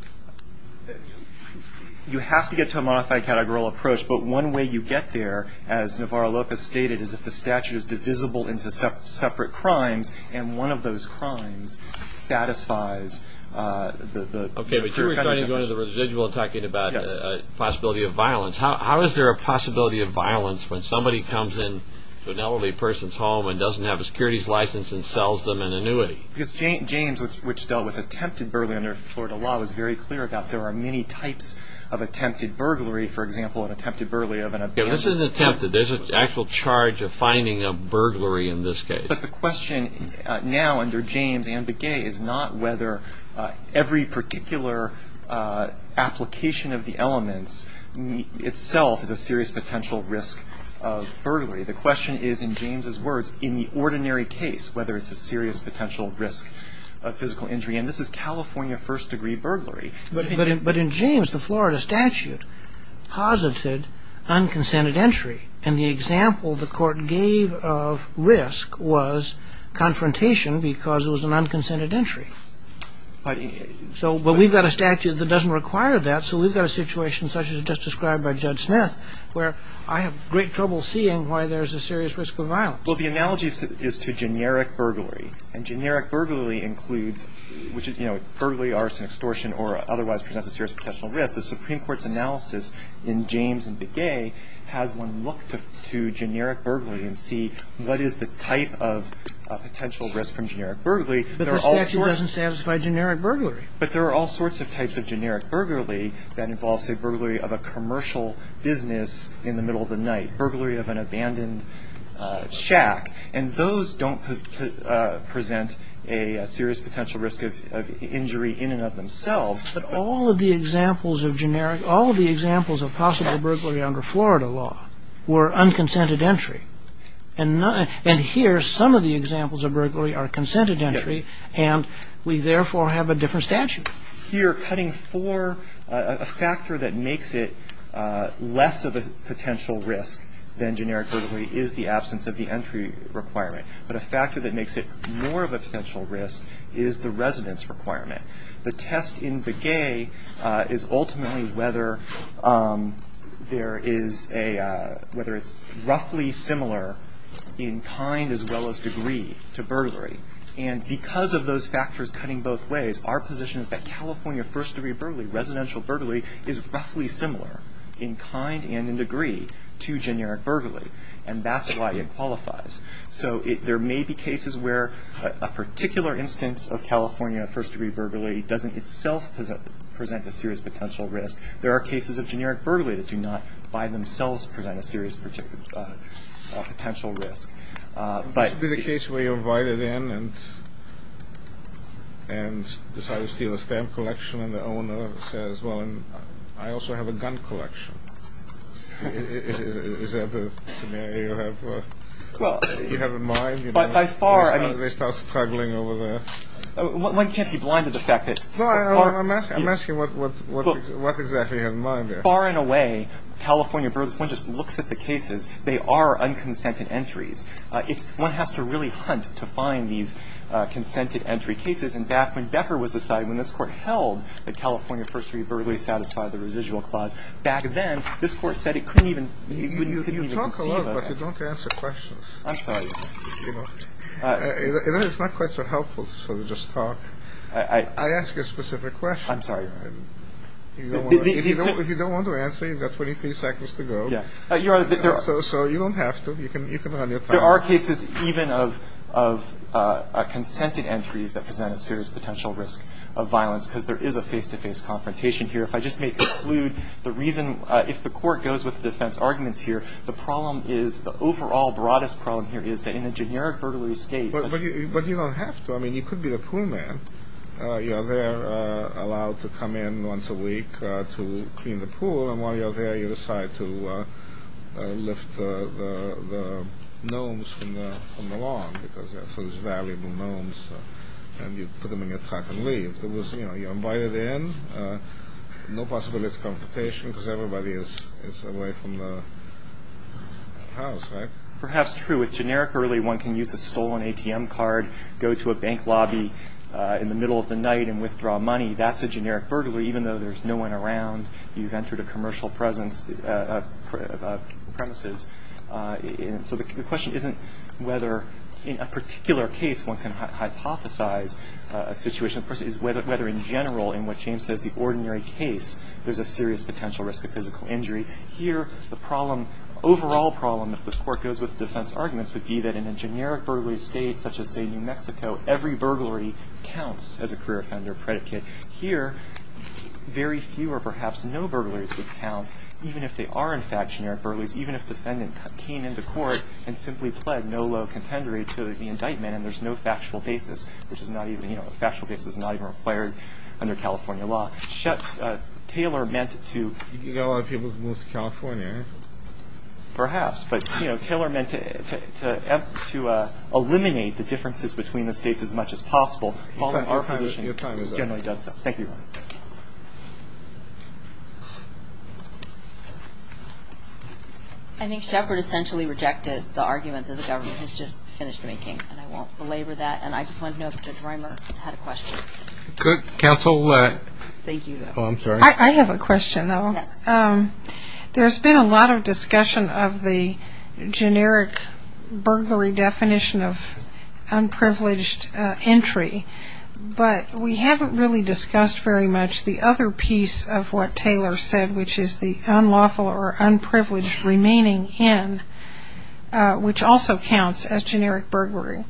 You have to get to a modified categorical approach, but one way you get there, as Navarro-Lopez stated, is if the statute is divisible into separate crimes and one of those crimes satisfies the... Okay, but you were starting to go into the residual and talking about the possibility of violence. How is there a possibility of violence when somebody comes into an elderly person's home and doesn't have a securities license and sells them an annuity? Because James, which dealt with attempted burglary under Florida law, was very clear about there are many types of attempted burglary. For example, an attempted burglary of an abandoned... Okay, this is an attempt that there's an actual charge of finding a burglary in this case. But the question now under James and Begay is not whether every particular application of the elements itself is a serious potential risk of burglary. The question is, in James's words, in the ordinary case, whether it's a serious potential risk of physical injury. And this is California first-degree burglary. But in James, the Florida statute posited unconsented entry. And the example the court gave of risk was confrontation because it was an unconsented entry. But we've got a statute that doesn't require that, so we've got a situation such as just described by Judge Smith where I have great trouble seeing why there's a serious risk of violence. Well, the analogy is to generic burglary. And generic burglary includes which is, you know, burglary, arson, extortion, or otherwise presents a serious potential risk. The Supreme Court's analysis in James and Begay has one look to generic burglary and see what is the type of potential risk from generic burglary. There are all sorts of... But the statute doesn't satisfy generic burglary. But there are all sorts of types of generic burglary that involves a burglary of a commercial business in the middle of the night, burglary of an abandoned shack. And those don't present a serious potential risk of injury in and of themselves. But all of the examples of generic, all of the examples of possible burglary under Florida law were unconsented entry. And here, some of the examples of burglary are consented entry, and we therefore have a different statute. Here, cutting for a factor that makes it less of a potential risk than generic requirement, but a factor that makes it more of a potential risk, is the residence requirement. The test in Begay is ultimately whether there is a, whether it's roughly similar in kind as well as degree to burglary. And because of those factors cutting both ways, our position is that California first degree burglary, residential burglary, is roughly similar in kind and in degree to generic burglary. And that's why it qualifies. So there may be cases where a particular instance of California first degree burglary doesn't itself present a serious potential risk. There are cases of generic burglary that do not by themselves present a serious potential risk. This would be the case where you're invited in and decide to steal a stamp collection and the owner says, well, I also have a gun collection. Is that the scenario you have in mind? By far, I mean. They start struggling over the. One can't be blind to the fact that. I'm asking what exactly you have in mind there. Far and away, California burglars, one just looks at the cases. They are unconsented entries. One has to really hunt to find these consented entry cases. And back when Becker was deciding, when this court held that California first degree burglary satisfied the residual clause back then, this court said it couldn't even. You talk a lot, but you don't answer questions. I'm sorry. It's not quite so helpful to just talk. I ask a specific question. I'm sorry. If you don't want to answer, you've got 23 seconds to go. So you don't have to. You can run your time. There are cases even of consented entries that present a serious potential risk of violence because there is a face-to-face confrontation here. If I just may conclude, the reason, if the court goes with the defense arguments here, the problem is, the overall broadest problem here is that in a generic burglary case. But you don't have to. I mean, you could be the pool man. You're there, allowed to come in once a week to clean the pool. And while you're there, you decide to lift the gnomes from the lawn because they're sort of valuable gnomes. And you put them in your truck and leave. If you're invited in, no possibility of confrontation because everybody is away from the house, right? Perhaps true. With generic burglary, one can use a stolen ATM card, go to a bank lobby in the middle of the night and withdraw money. That's a generic burglary, even though there's no one around. You've entered a commercial premises. So the question isn't whether in a particular case one can hypothesize a situation. The question, of course, is whether in general, in what James says, the ordinary case, there's a serious potential risk of physical injury. Here, the problem, overall problem, if the court goes with defense arguments, would be that in a generic burglary state such as, say, New Mexico, every burglary counts as a career offender predicate. Here, very few or perhaps no burglaries would count, even if they are, in fact, generic burglaries, even if the defendant came into court and simply pled no low contendery to the indictment and there's no factual basis, which is not even, you know, a factual basis is not even required under California law. Taylor meant to... You've got a lot of people who have moved to California, right? Perhaps. But, you know, Taylor meant to eliminate the differences between the states as much as possible. Paul, in our position, generally does so. Thank you. Thank you. I think Shepard essentially rejected the argument that the government has just finished making, and I won't belabor that, and I just wanted to know if Judge Reimer had a question. Good. Counsel? Thank you. Oh, I'm sorry. I have a question, though. Yes. There's been a lot of discussion of the generic burglary definition of unprivileged entry, but we haven't really discussed very much the other piece of what Taylor said, which is the unlawful or unprivileged remaining in, which also counts as generic burglary.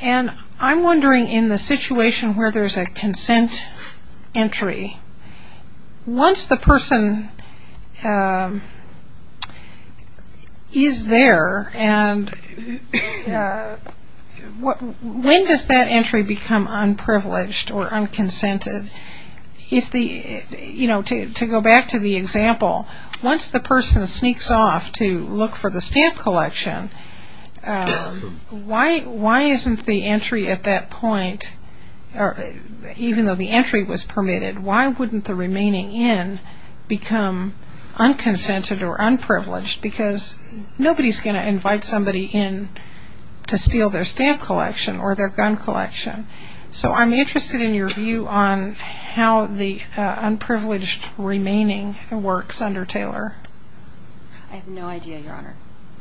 And I'm wondering, in the situation where there's a consent entry, once the person is there, and when does that entry become unprivileged or unconsented? You know, to go back to the example, once the person sneaks off to look for the stamp collection, why isn't the entry at that point, even though the entry was permitted, why wouldn't the remaining in become unconsented or unprivileged? Because nobody's going to invite somebody in to steal their stamp collection or their gun collection. So I'm interested in your view on how the unprivileged remaining works under Taylor. I have no idea, Your Honor.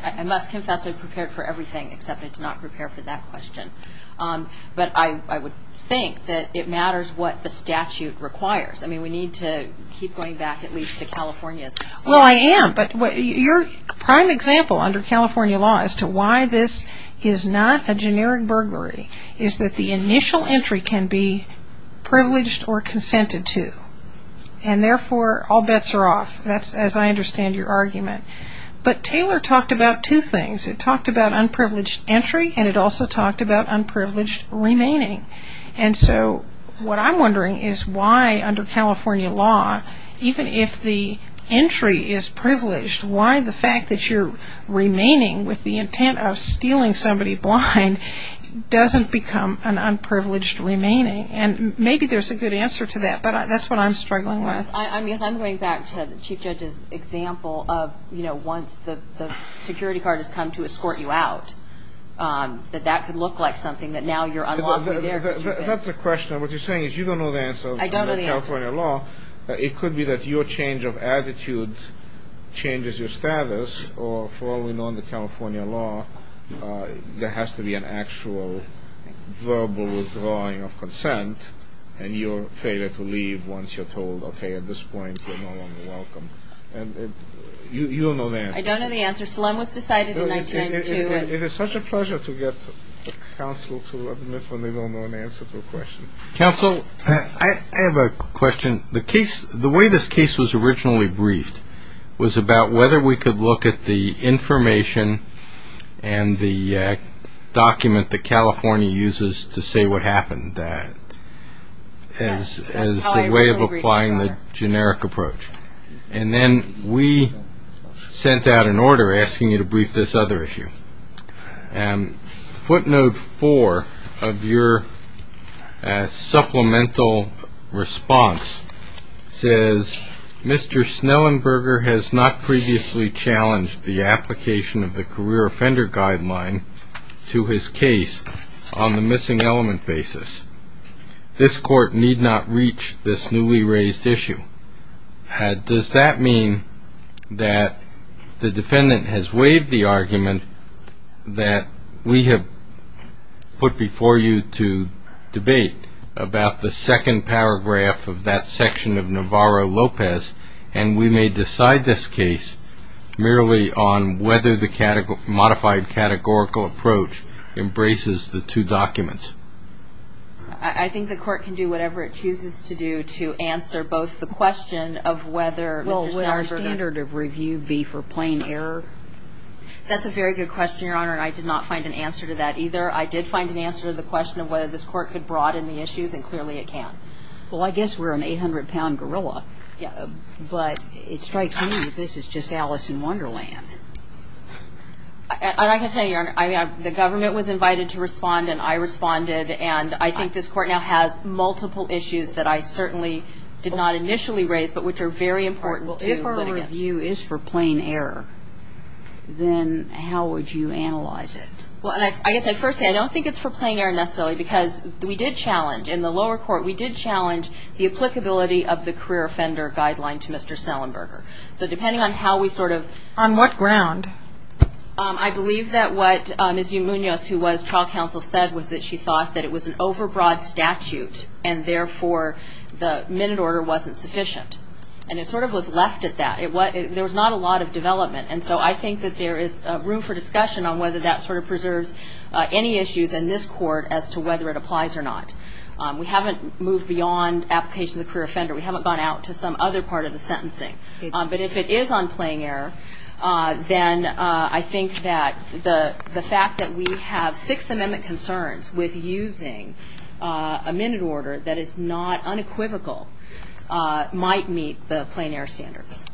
I must confess I prepared for everything, except I did not prepare for that question. But I would think that it matters what the statute requires. I mean, we need to keep going back at least to California's statute. Well, I am. But your prime example under California law as to why this is not a generic burglary is that the initial entry can be privileged or consented to, and therefore all bets are off. That's as I understand your argument. But Taylor talked about two things. It talked about unprivileged entry, and it also talked about unprivileged remaining. And so what I'm wondering is why under California law, even if the entry is privileged, why the fact that you're remaining with the intent of stealing somebody blind doesn't become an unprivileged remaining. And maybe there's a good answer to that, but that's what I'm struggling with. I guess I'm going back to the Chief Judge's example of, you know, once the security guard has come to escort you out, that that could look like something that now you're unlawfully there. That's a question. What you're saying is you don't know the answer under California law. It could be that your change of attitude changes your status, or for all we know under California law, there has to be an actual verbal drawing of consent, and your failure to leave once you're told, okay, at this point you're no longer welcome. And you don't know the answer. I don't know the answer. Solemn was decided in 1902. It is such a pleasure to get counsel to admit when they don't know an answer to a question. Counsel, I have a question. The way this case was originally briefed was about whether we could look at the information and the document that California uses to say what happened as a way of applying the generic approach. And then we sent out an order asking you to brief this other issue. Footnote four of your supplemental response says, Mr. Snellenberger has not previously challenged the application of the career offender guideline to his case on the missing element basis. This court need not reach this newly raised issue. Does that mean that the defendant has waived the argument that we have put before you to debate about the second paragraph of that section of Navarro-Lopez, and we may decide this case merely on whether the modified categorical approach embraces the two documents? I think the court can do whatever it chooses to do to answer both the question of whether Mr. Snellenberger Well, would our standard of review be for plain error? That's a very good question, Your Honor, and I did not find an answer to that either. I did find an answer to the question of whether this court could broaden the issues, and clearly it can. Well, I guess we're an 800-pound gorilla. Yes. But it strikes me that this is just Alice in Wonderland. I can say, Your Honor, the government was invited to respond, and I responded, and I think this court now has multiple issues that I certainly did not initially raise, but which are very important to litigants. Well, if our review is for plain error, then how would you analyze it? Well, I guess I'd first say I don't think it's for plain error necessarily, because we did challenge in the lower court, we did challenge the applicability of the career offender guideline to Mr. Snellenberger. So depending on how we sort of On what ground? I believe that what Ms. E. Munoz, who was trial counsel, said was that she thought that it was an overbroad statute, and therefore the minute order wasn't sufficient. And it sort of was left at that. There was not a lot of development, and so I think that there is room for discussion on whether that sort of preserves any issues in this court as to whether it applies or not. We haven't moved beyond application of the career offender. We haven't gone out to some other part of the sentencing. But if it is on plain error, then I think that the fact that we have Sixth Amendment concerns with using a minute order that is not unequivocal might meet the plain error standards.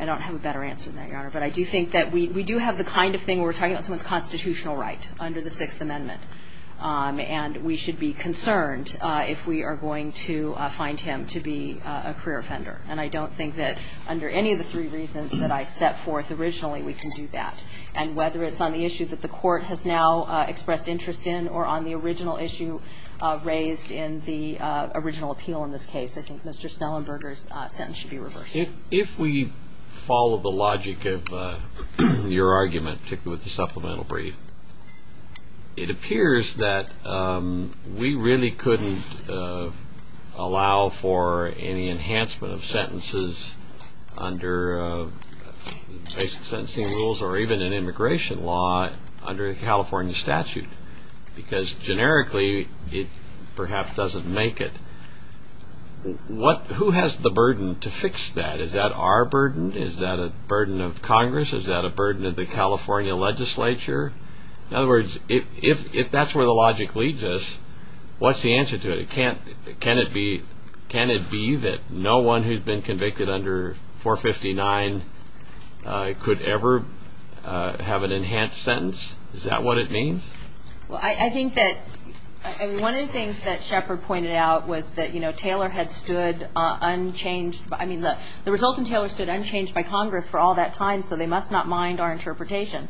I don't have a better answer than that, Your Honor. But I do think that we do have the kind of thing where we're talking about someone's constitutional right under the Sixth Amendment. And we should be concerned if we are going to find him to be a career offender. And I don't think that under any of the three reasons that I set forth originally, we can do that. And whether it's on the issue that the court has now expressed interest in or on the original issue raised in the original appeal in this case, I think Mr. Snellenberger's sentence should be reversed. If we follow the logic of your argument, particularly with the supplemental brief, it appears that we really couldn't allow for any enhancement of sentences under basic sentencing rules or even an immigration law under a California statute because generically it perhaps doesn't make it. Who has the burden to fix that? Is that our burden? Is that a burden of Congress? Is that a burden of the California legislature? In other words, if that's where the logic leads us, what's the answer to it? Can it be that no one who's been convicted under 459 could ever have an enhanced sentence? Is that what it means? Well, I think that one of the things that Shepard pointed out was that, you know, Taylor had stood unchanged. I mean, the resultant Taylor stood unchanged by Congress for all that time, so they must not mind our interpretation.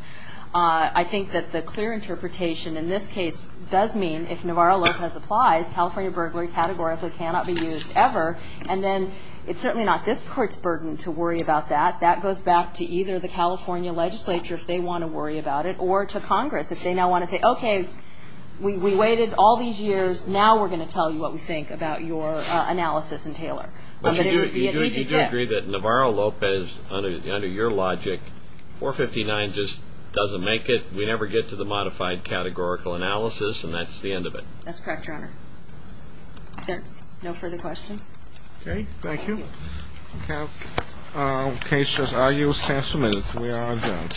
I think that the clear interpretation in this case does mean if Navarro-Lopez applies, California burglary categorically cannot be used ever. And then it's certainly not this court's burden to worry about that. That goes back to either the California legislature, if they want to worry about it, or to Congress. If they now want to say, okay, we waited all these years. Now we're going to tell you what we think about your analysis and Taylor. But you do agree that Navarro-Lopez, under your logic, 459 just doesn't make it. We never get to the modified categorical analysis, and that's the end of it. That's correct, Your Honor. Are there no further questions? Okay, thank you. If you have any questions, I'll use the chance for a minute. We are adjourned.